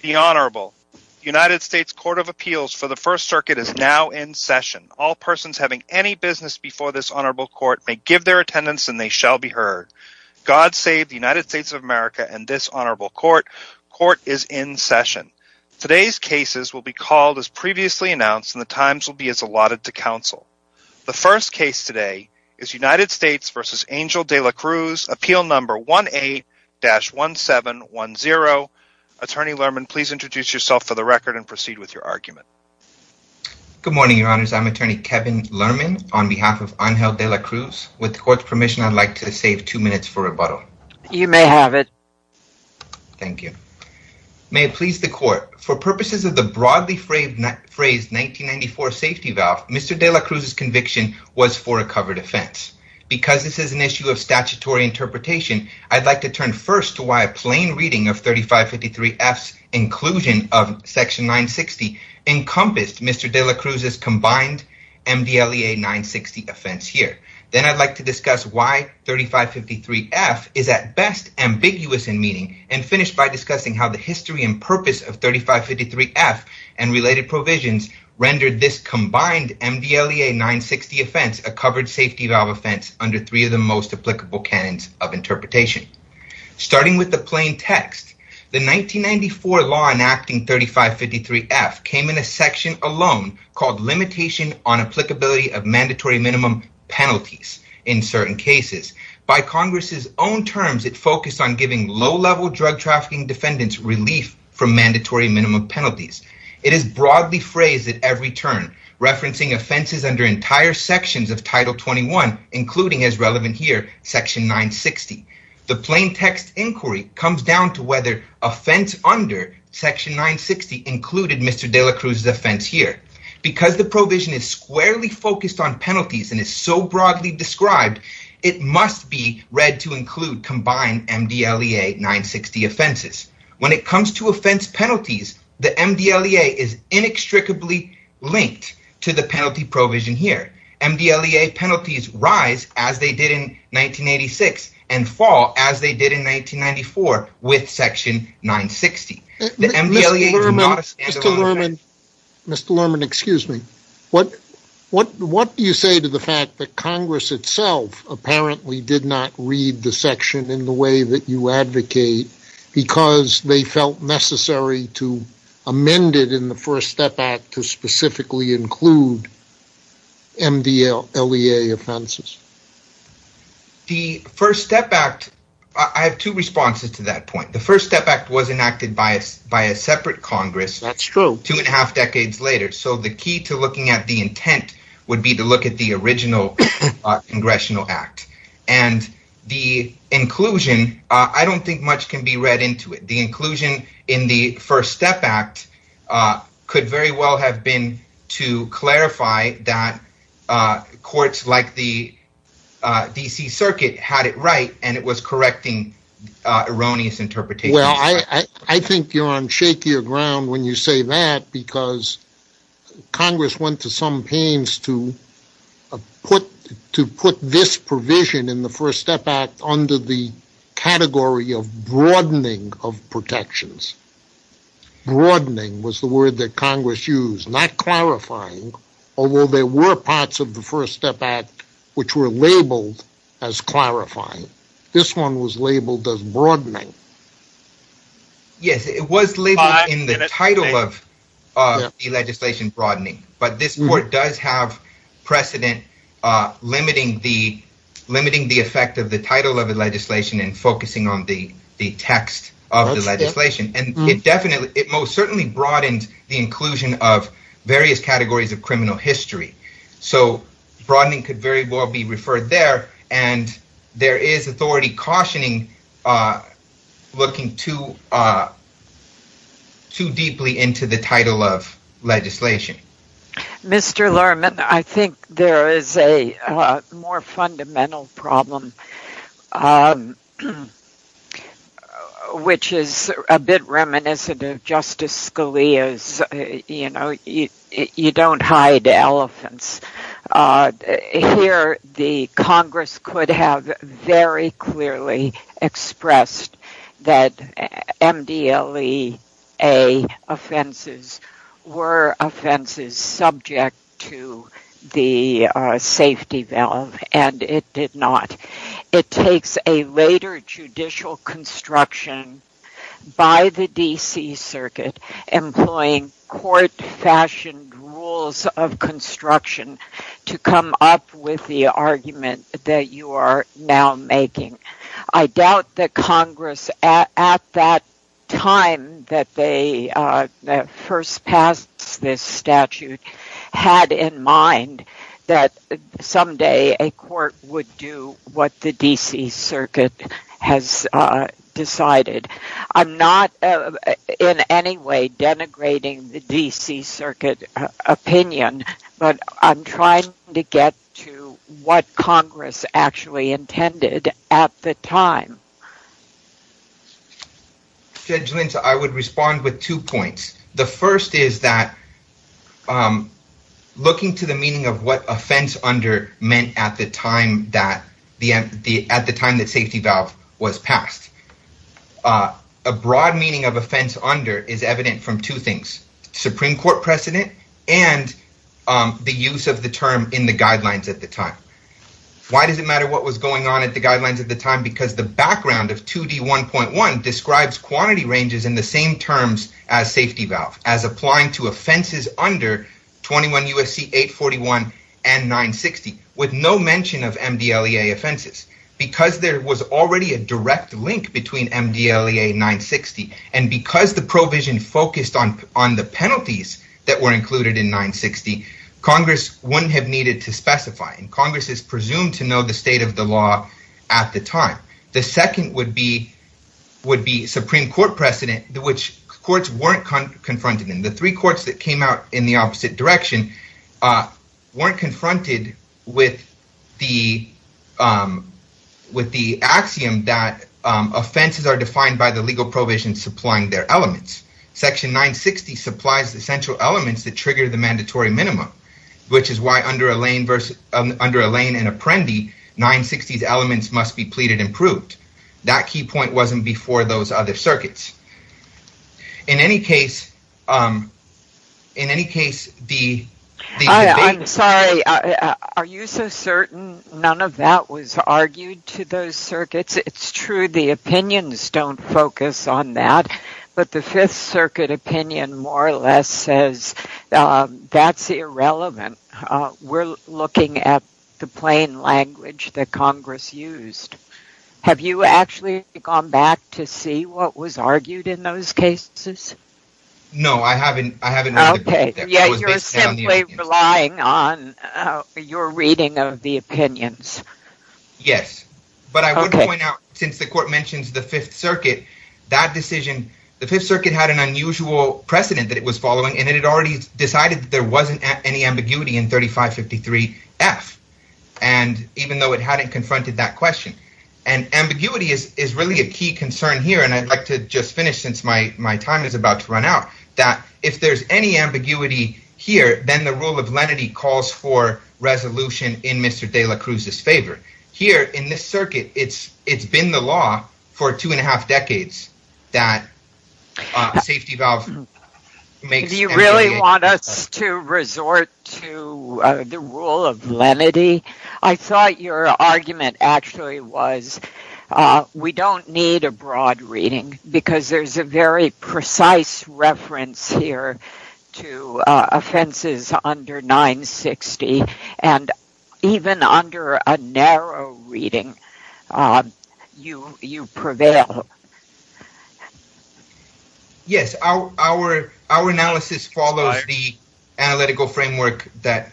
The Honorable United States Court of Appeals for the First Circuit is now in session. All persons having any business before this Honorable Court may give their attendance and they shall be heard. God save the United States of America and this Honorable Court. Court is in session. Today's cases will be called as previously announced and the times will be as allotted to Attorney Lerman, please introduce yourself for the record and proceed with your argument. Good morning, Your Honors. I'm Attorney Kevin Lerman on behalf of Angel De La Cruz. With the Court's permission, I'd like to save two minutes for rebuttal. You may have it. Thank you. May it please the Court. For purposes of the broadly phrased 1994 safety valve, Mr. De La Cruz's conviction was for a covered offense. Because this is an issue of statutory interpretation, I'd like to turn first to why a plain reading of 3553F's inclusion of Section 960 encompassed Mr. De La Cruz's combined MDLEA 960 offense here. Then I'd like to discuss why 3553F is at best ambiguous in meaning and finish by discussing how the history and purpose of 3553F and related provisions rendered this combined MDLEA 960 offense a covered safety valve offense under three of the most applicable canons of interpretation. Starting with the plain text, the 1994 law enacting 3553F came in a section alone called limitation on applicability of mandatory minimum penalties in certain cases. By Congress's own terms, it focused on giving low-level drug trafficking defendants relief from mandatory minimum penalties. It is broadly phrased at every turn, referencing offenses under entire sections of Title 21, including as relevant here, Section 960. The plain text inquiry comes down to whether offense under Section 960 included Mr. De La Cruz's offense here. Because the provision is squarely focused on penalties and is so broadly described, it must be read to include combined MDLEA 960 offenses. When it comes to offense penalties, the MDLEA is inextricably linked to the penalty provision here. MDLEA penalties rise as they did in 1986 and fall as they did in 1994 with Section 960. Mr. Lerman, excuse me. What do you say to the fact that Congress itself apparently did not read the section in the way that you advocate because they felt necessary to amend it in the First Step Act to specifically include MDLEA offenses? The First Step Act, I have two responses to that point. The First Step Act was enacted by us by a separate Congress. That's true. Two and a half decades later, so the key to looking at the intent would be to look at the original Congressional Act. And the inclusion, I don't think much can be read into it. The inclusion in the First Step Act could very well have been to clarify that courts like the D.C. Circuit had it right and it was correcting erroneous interpretations. Well, I think you're on shakier ground when you say that because Congress went to some pains to put this provision in the First Step Act under the category of broadening of protections. Broadening was the word that Congress used, not clarifying, although there were parts of the First Step Act which were in the title of the legislation broadening. But this court does have precedent limiting the effect of the title of the legislation and focusing on the text of the legislation. And it most certainly broadened the inclusion of various categories of criminal history. So broadening could very well be referred there. And there is authority cautioning looking to deeply into the title of legislation. Mr. Lerman, I think there is a more fundamental problem which is a bit reminiscent of Justice Scalia's, you know, you don't hide elephants. Here, the Congress could have very clearly expressed that MDLEA offenses were offenses subject to the safety valve and it did not. It takes a later judicial construction by the D.C. Circuit employing court-fashioned rules of construction to come up with the argument that you are now making. I doubt that Congress at that time that they first passed this statute had in mind that someday a court would do what the D.C. Circuit has decided. I'm not in any way denigrating the D.C. Circuit opinion, but I'm trying to get to what Congress actually at the time. Judge Linz, I would respond with two points. The first is that looking to the meaning of what offense under meant at the time that safety valve was passed. A broad meaning of offense under is evident from two things, Supreme Court precedent and the use of the term in the guidelines at the time. Why does it matter what was going on at the guidelines at the time? Because the background of 2D1.1 describes quantity ranges in the same terms as safety valve as applying to offenses under 21 U.S.C. 841 and 960 with no mention of MDLEA offenses because there was already a direct link between MDLEA 960 and because the provision focused on the penalties that were included in 960. Congress wouldn't have needed to specify and Congress is presumed to know the state of the law at the time. The second would be Supreme Court precedent which courts weren't confronted in. The three courts that came out in the opposite direction weren't confronted with the axiom that offenses are defined by legal provisions supplying their elements. Section 960 supplies the essential elements that trigger the mandatory minimum which is why under Elaine and Apprendi, 960's elements must be pleaded and proved. That key point wasn't before those other circuits. In any case, in any case, are you so certain none of that was argued to those circuits? It's true the opinions don't focus on that but the Fifth Circuit opinion more or less says that's irrelevant. We're looking at the plain language that Congress used. Have you actually gone back to see what was argued in those cases? No, I haven't. Okay, yet you're simply relying on your reading of the opinions. Yes, but I would point out since the court mentions the Fifth Circuit, that decision, the Fifth Circuit had an unusual precedent that it was following and it had already decided that there wasn't any ambiguity in 3553 F and even though it hadn't confronted that question and ambiguity is really a key concern here and I'd like to just finish since my time is about to run out that if there's any ambiguity here then the rule of lenity calls for resolution in Mr. de la Cruz's here in this circuit. It's been the law for two and a half decades that safety valve makes you really want us to resort to the rule of lenity. I thought your argument actually was we don't need a broad reading because there's a very precise reference here to offenses under 960 and even under a narrow reading you prevail. Yes, our analysis follows the analytical framework that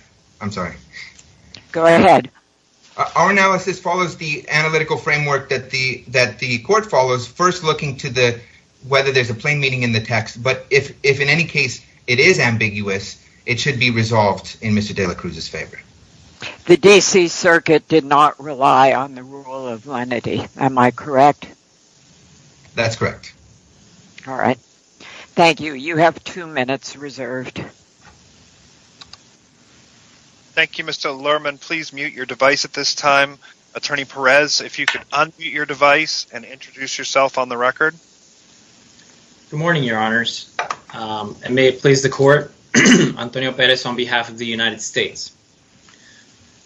the court follows first looking to the whether there's a plain meaning in the text but if in any case it is ambiguous it should be resolved in Mr. de la Cruz's favor. The D.C. circuit did not rely on the rule of lenity, am I correct? That's correct. All right, thank you. You have two minutes reserved. Thank you, Mr. Lerman. Please mute your device at this time. Attorney Perez, if you could unmute your device and introduce yourself on the record. Good morning, your honors, and may it please the court. Antonio Perez on behalf of the United States.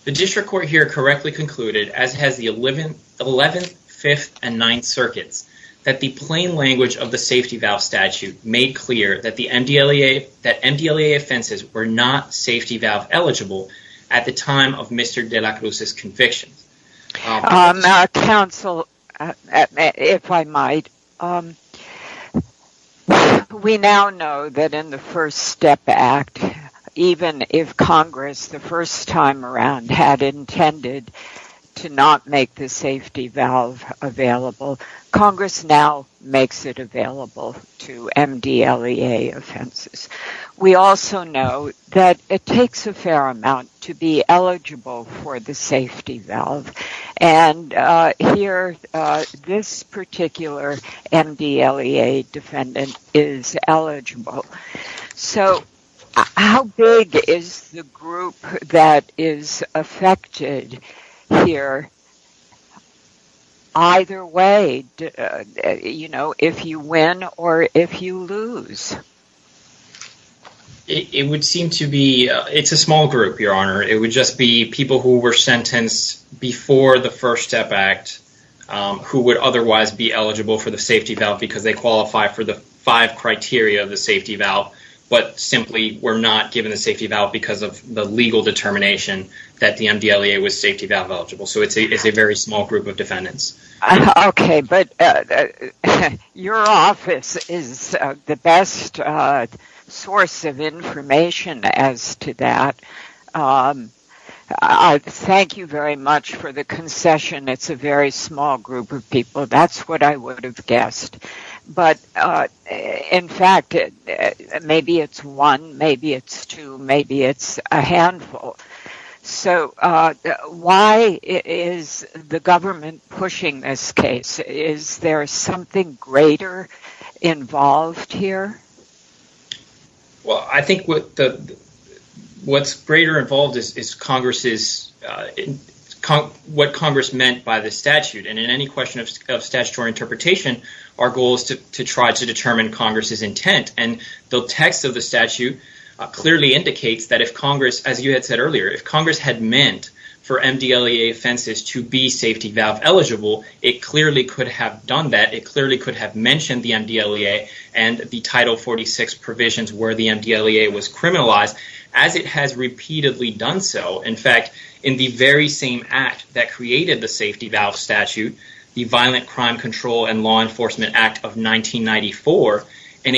The district court here correctly concluded as has the 11th, 5th, and 9th circuits that the plain language of the safety valve statute made clear that the MDLEA, that MDLEA offenses were not safety valve eligible at the time of Mr. de la Cruz's convictions. Counsel, if I might, we now know that in the First Step Act, even if Congress the first time around had intended to not make the safety valve available, Congress now makes it available to MDLEA offenses. We also know that it takes a fair amount to be eligible for the safety valve. And here, this particular MDLEA defendant is eligible. So how big is the group that is affected here? Either way, you know, if you win or if you lose? It would seem to be, it's a small group, your honor. It would just be people who were sentenced before the First Step Act who would otherwise be eligible for the safety valve because they qualify for the five criteria of the safety valve, but simply were not given the safety valve because the legal determination that the MDLEA was safety valve eligible. So it's a very small group of defendants. Okay, but your office is the best source of information as to that. Thank you very much for the concession. It's a very small group of people. That's what I would call a handful. So why is the government pushing this case? Is there something greater involved here? Well, I think what's greater involved is what Congress meant by the statute. And in any question of statutory interpretation, our goal is to try to determine Congress's intent. And the text of the statute clearly indicates that if Congress, as you had said earlier, if Congress had meant for MDLEA offenses to be safety valve eligible, it clearly could have done that. It clearly could have mentioned the MDLEA and the Title 46 provisions where the MDLEA was criminalized as it has repeatedly done so. In fact, in the very same act that created the safety valve statute, the Violent Crime Control and Law Enforcement Act of 1994, in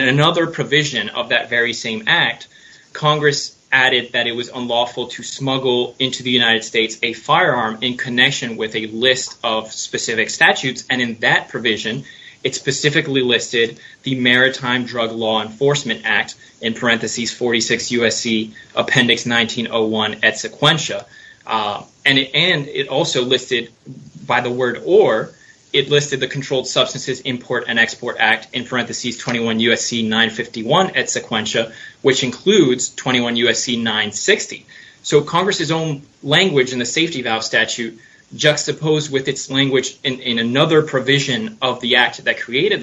another provision of that very same act, Congress added that it was unlawful to smuggle into the United States a firearm in connection with a list of specific statutes. And in that provision, it specifically listed the Maritime Drug Law Enforcement Act in parentheses 46 USC Appendix 1901 at sequentia. And it also listed by the word or, it listed the Controlled Substances Import and Export Act in parentheses 21 USC 951 at sequentia, which includes 21 USC 960. So Congress's own language in the safety valve statute juxtaposed with its language in another provision of the act that clearly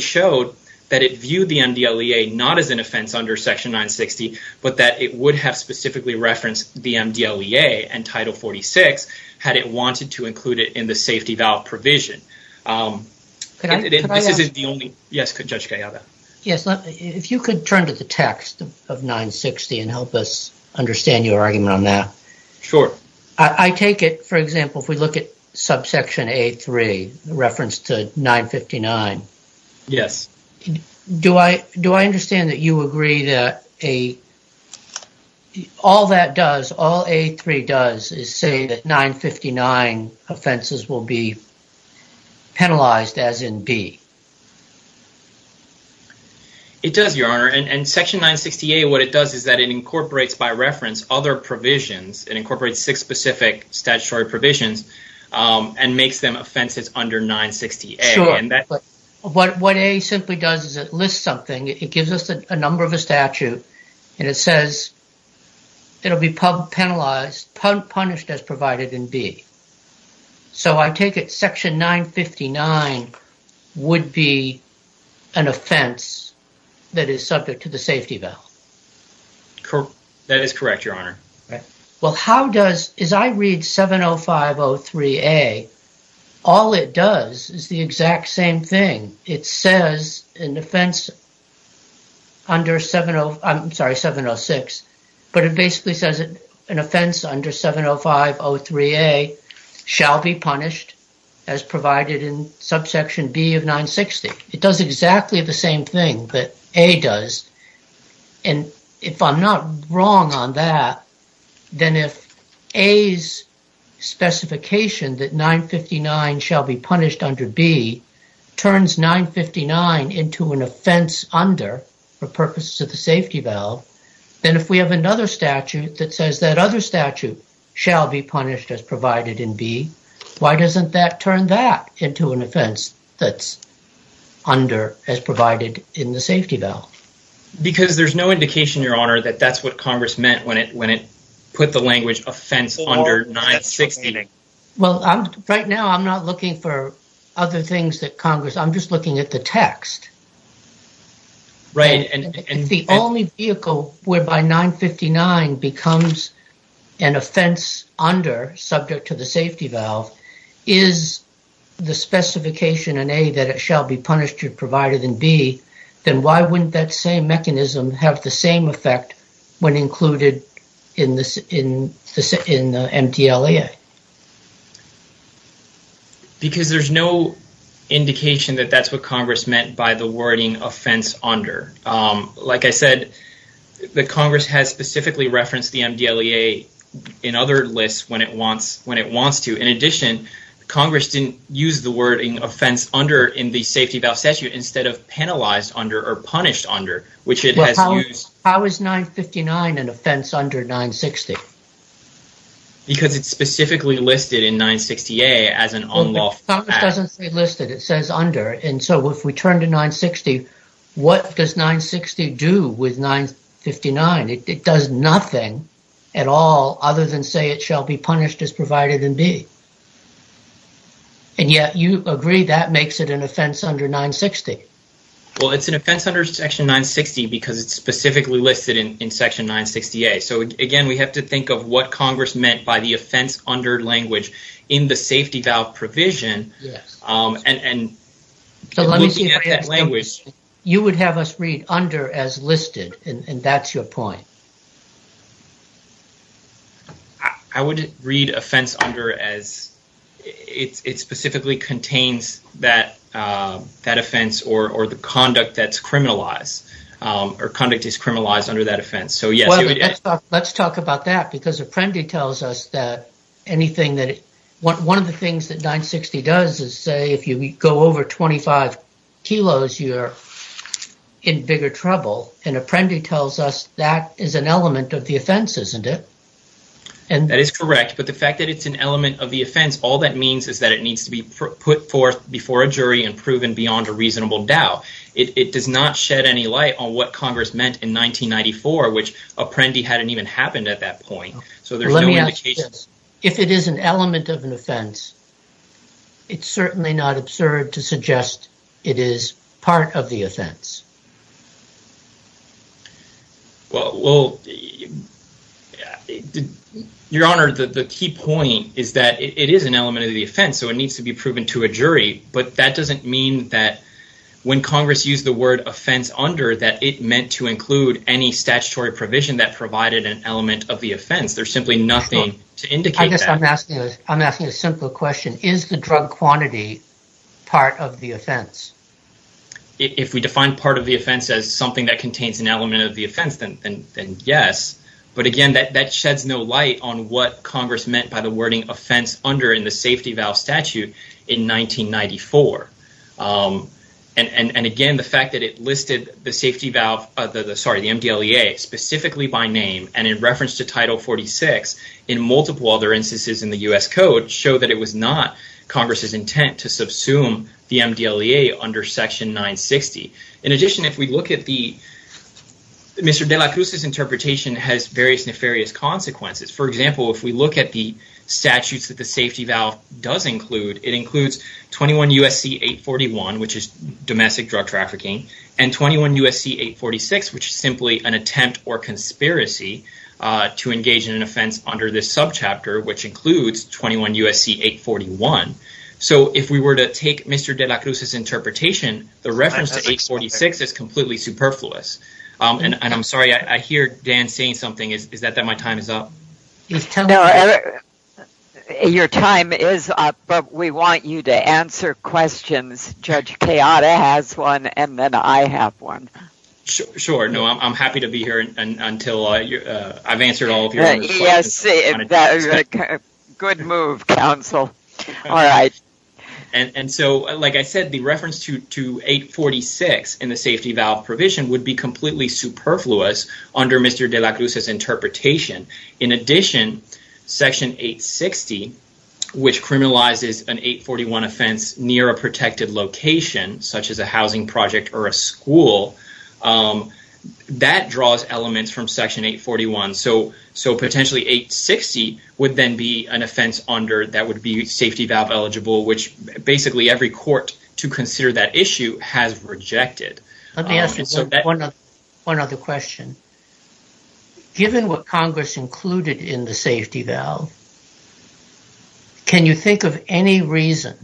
showed that it viewed the MDLEA not as an offense under Section 960, but that it would have specifically referenced the MDLEA and Title 46, had it wanted to include it in the safety valve provision. This isn't the only, yes, Judge Gallardo. Yes. If you could turn to the text of 960 and help us understand your argument on that. Sure. I take it, for example, if we look subsection A3 referenced to 959. Yes. Do I understand that you agree that all that does, all A3 does is say that 959 offenses will be penalized as in B? It does, Your Honor. And Section 960A, what it does is that it incorporates by reference other provisions. It incorporates six specific statutory provisions and makes them offenses under 960A. Sure. What A simply does is it lists something, it gives us a number of a statute, and it says it'll be penalized, punished as provided in B. So I take it Section 959 would be an offense that is subject to the safety valve. Correct. That is correct, Your Honor. Well, how does, as I read 70503A, all it does is the exact same thing. It says an offense under 70, I'm sorry, 706, but it basically says an offense under 70503A shall be punished as provided in subsection B of 960. It does exactly the same thing that A does. And if I'm not wrong on that, then if A's specification that 959 shall be punished under B turns 959 into an offense under, for purposes of the safety valve, then if we have another statute that says that other statute shall be punished as provided in B, why doesn't that turn that into an offense that's under as provided in the safety valve? Because there's no indication, Your Honor, that that's what Congress meant when it put the language offense under 960. Well, right now I'm not looking for other things that Congress, I'm just looking at the text. Right. And the only vehicle whereby 959 becomes an offense under, subject to the safety valve, is the specification in A that it shall be punished as provided in B, then why wouldn't that same mechanism have the same effect when included in the MTLEA? Because there's no indication that that's what Congress meant by the wording offense under. Like I said, the Congress has specifically referenced the MTLEA in other lists when it wants to. In addition, Congress didn't use the wording offense under in the safety valve statute instead of penalized under or punished under, which it has used. How is 959 an offense under 960? Because it's specifically listed in 960A as an unlawful act. It doesn't say listed, it says under. And so if we turn to 960, what does 960 do with 959? It does nothing at all other than say it shall be punished as provided in B. And yet you agree that makes it an offense under 960. Well, it's an offense under section 960 because it's specifically listed in section 960A. So again, we have to think of what Congress meant by the offense under language in the safety valve provision and looking at that language. You would have us read under as listed, and that's your point. I would read offense under as it specifically contains that offense or the conduct that's criminalized or conduct is criminalized under that offense. So yes. Let's talk about that because Apprendi tells us that anything that one of the things that 960 does is say if you go over 25 kilos, you're in bigger trouble. And Apprendi tells us that is an element of the offense, isn't it? That is correct. But the fact that it's an element of the offense, all that means is that it needs to be put forth before a jury and proven beyond a reasonable doubt. It does not shed any light on what Congress meant in 1994, which Apprendi hadn't even happened at that point. So there's no indication. If it is an element of an offense, it's certainly not absurd to suggest it is part of the offense. Well, your honor, the key point is that it is an element of the offense, so it needs to be the word offense under that it meant to include any statutory provision that provided an element of the offense. There's simply nothing to indicate that. I'm asking a simple question. Is the drug quantity part of the offense? If we define part of the offense as something that contains an element of the offense, then yes. But again, that sheds no light on what Congress meant by the wording offense under in the safety valve statute in 1994. And again, the fact that it listed the MDLEA specifically by name and in reference to Title 46 in multiple other instances in the U.S. Code show that it was not Congress's intent to subsume the MDLEA under Section 960. In addition, if we look at the... Mr. De La Cruz's interpretation has various nefarious consequences. For example, if we look at the statutes that the safety valve does include, it includes 21 U.S.C. 841, which is domestic drug trafficking, and 21 U.S.C. 846, which is simply an attempt or conspiracy to engage in an offense under this subchapter, which includes 21 U.S.C. 841. So if we were to take Mr. De La Cruz's interpretation, the reference to 846 is completely superfluous. And I'm sorry, I hear Dan saying something. Is but we want you to answer questions. Judge Chiara has one and then I have one. Sure. No, I'm happy to be here until I've answered all of your questions. Good move, counsel. All right. And so, like I said, the reference to 846 in the safety valve provision would be completely superfluous under Mr. De La Cruz's interpretation. In addition, Section 860, which criminalizes an 841 offense near a protected location, such as a housing project or a school, that draws elements from Section 841. So potentially 860 would then be an offense under that would be safety valve eligible, which basically every court to consider that issue has rejected. Let me ask you one other question. Given what Congress included in the safety valve, can you think of any reason,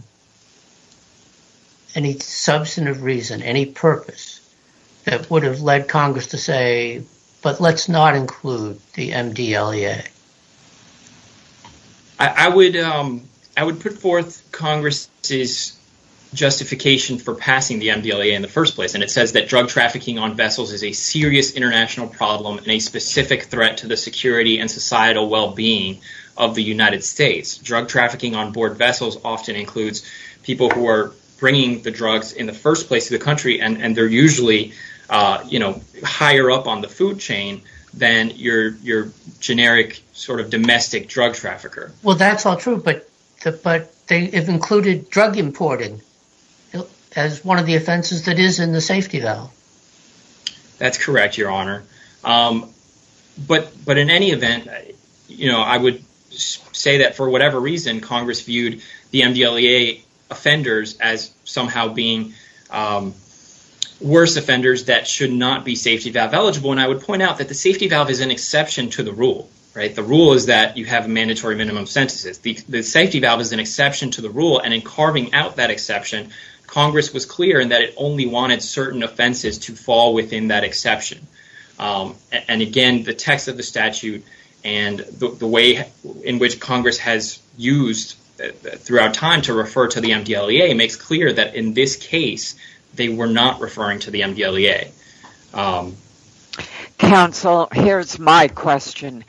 any substantive reason, any purpose that would have led Congress to say, but let's not include the MDLEA? I would put forth Congress's justification for passing the MDLEA in the first place. And it says that drug trafficking on vessels is a serious international problem and a specific threat to the security and societal well-being of the United States. Drug trafficking on board vessels often includes people who are bringing the drugs in the first place to the country, and they're usually, you know, higher up on the food chain than your generic sort of domestic drug trafficker. Well, that's all true, but they've included drug importing as one of the offenses that is in the safety valve. That's correct, Your Honor. But in any event, you know, I would say that for whatever reason, Congress viewed the MDLEA offenders as somehow being worse offenders that should not be safety valve eligible. And I would point out that the safety valve is an exception to the rule, right? The rule is that you have a mandatory minimum sentences. The safety valve is an exception. Congress was clear in that it only wanted certain offenses to fall within that exception. And again, the text of the statute and the way in which Congress has used throughout time to refer to the MDLEA makes clear that in this case, they were not referring to the MDLEA. Counsel, here's my question.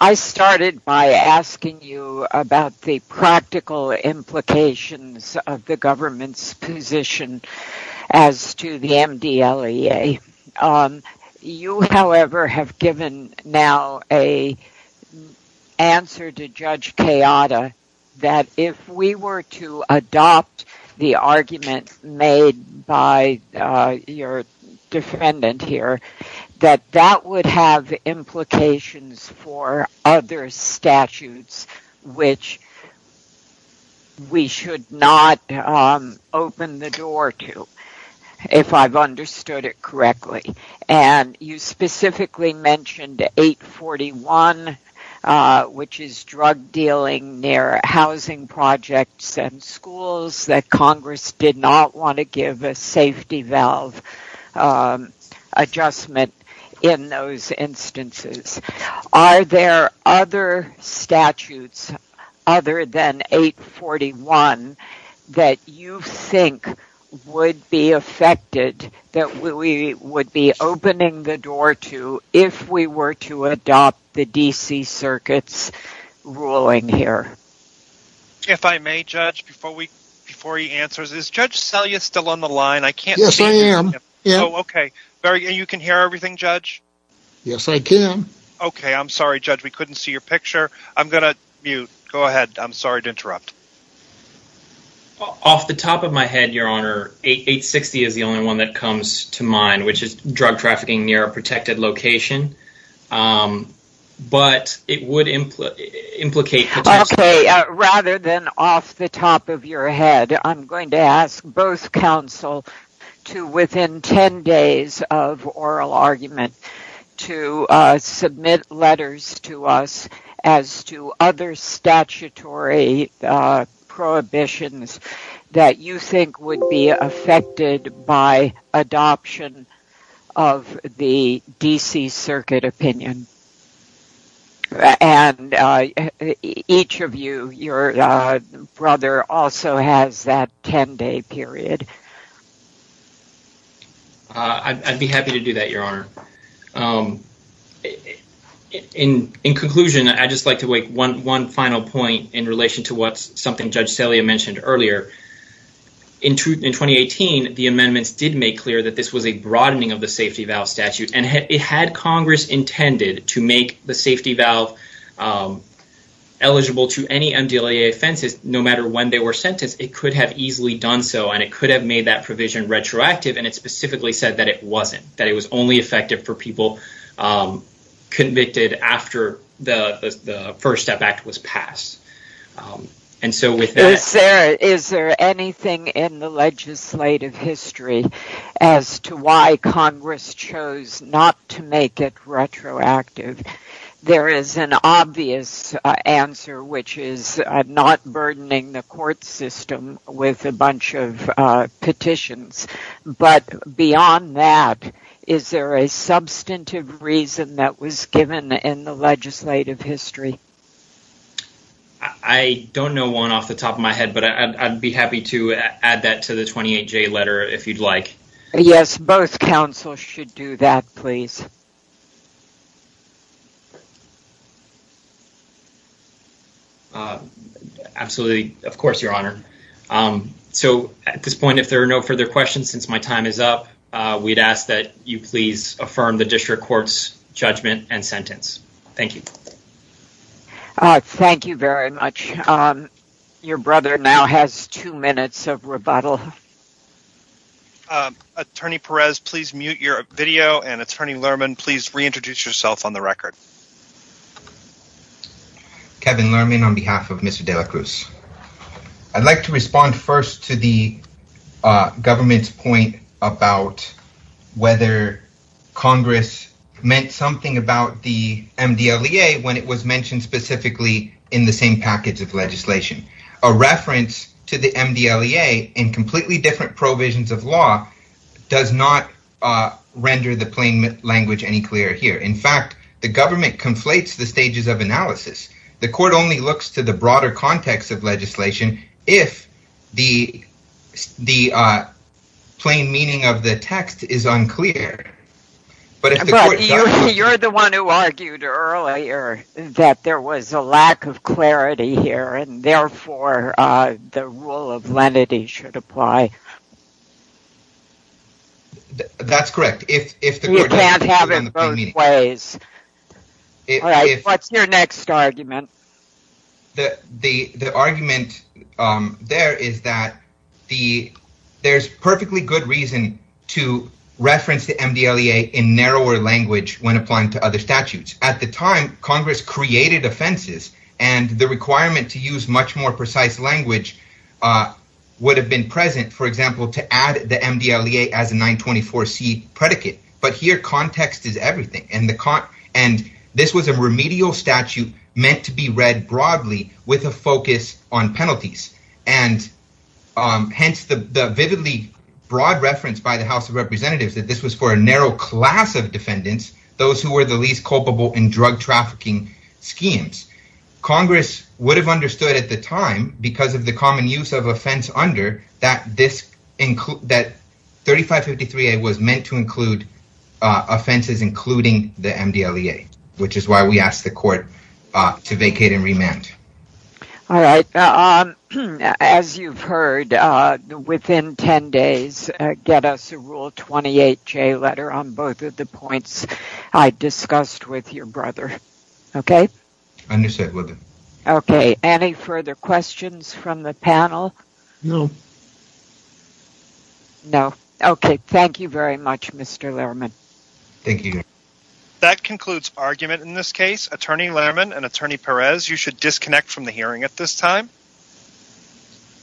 I started by asking you about the practical implications of the government's position as to the MDLEA. You, however, have given now a answer to Judge Kayada that if we were to adopt the argument made by your defendant here, that that would have implications for other statutes, which we should not open the door to, if I've understood it correctly. And you specifically mentioned 841, which is drug dealing near housing projects and schools that Congress did not want to give a in those instances. Are there other statutes other than 841 that you think would be affected that we would be opening the door to if we were to adopt the D.C. Circuit's ruling here? If I may, Judge, before he answers, is Judge Selya still on the line? I can't see him. Yes, I am. Okay. You can hear everything, Judge? Yes, I can. Okay. I'm sorry, Judge. We couldn't see your picture. I'm going to mute. Go ahead. I'm sorry to interrupt. Off the top of my head, Your Honor, 860 is the only one that comes to mind, which is drug trafficking near a protected location. But it would implicate... Rather than off the top of your head, I'm going to ask both counsel to, within 10 days of oral argument, to submit letters to us as to other statutory prohibitions that you think would be Your brother also has that 10-day period. I'd be happy to do that, Your Honor. In conclusion, I'd just like to make one final point in relation to what's something Judge Selya mentioned earlier. In 2018, the amendments did make clear that this was a broadening of the safety valve eligible to any MDLA offenses. No matter when they were sentenced, it could have easily done so, and it could have made that provision retroactive. It specifically said that it wasn't, that it was only effective for people convicted after the First Step Act was passed. Is there anything in the legislative history as to why Congress chose not to make it retroactive? There is an obvious answer, which is not burdening the court system with a bunch of petitions. But beyond that, is there a substantive reason that was given in the legislative history? I don't know one off the top of my head, but I'd be happy to add that to the 28-J letter if you'd like. Absolutely, of course, Your Honor. So, at this point, if there are no further questions, since my time is up, we'd ask that you please affirm the District Court's judgment and sentence. Thank you. Thank you very much. Your brother now has two minutes of rebuttal. Attorney Perez, please mute your video, and Attorney Lerman, please reintroduce yourself on the record. Kevin Lerman on behalf of Mr. de la Cruz. I'd like to respond first to the government's point about whether Congress meant something about the MDLEA when it was mentioned specifically in the same package of legislation. A reference to the MDLEA in completely different provisions of law does not render the plain language any clearer here. In fact, the government conflates the stages of analysis. The court only looks to the broader context of legislation if the plain meaning of the text is unclear. You're the one who argued earlier that there was a lack of clarity here, and therefore, the rule of lenity should apply. That's correct. You can't have it both ways. What's your next argument? The argument there is that there's perfectly good reason to reference the MDLEA in narrower language when applying to other statutes. At the time, Congress created offenses, and the requirement to use much more precise language would have been present, for example, to add the MDLEA as a 924c predicate. But here, context is everything, and this was a remedial statute meant to be read broadly with a focus on penalties. Hence, the vividly broad reference by the House of Representatives that this was for a narrow class of defendants, those who were the Congress would have understood at the time, because of the common use of offense under, that 3553a was meant to include offenses including the MDLEA, which is why we asked the court to vacate and remand. All right. As you've heard, within 10 days, get us a Rule 28J letter on both of the points I discussed with your brother. Okay? Understood, Mother. Okay. Any further questions from the panel? No. No. Okay. Thank you very much, Mr. Lehrman. Thank you. That concludes argument in this case. Attorney Lehrman and Attorney Perez, you should disconnect from the hearing at this time.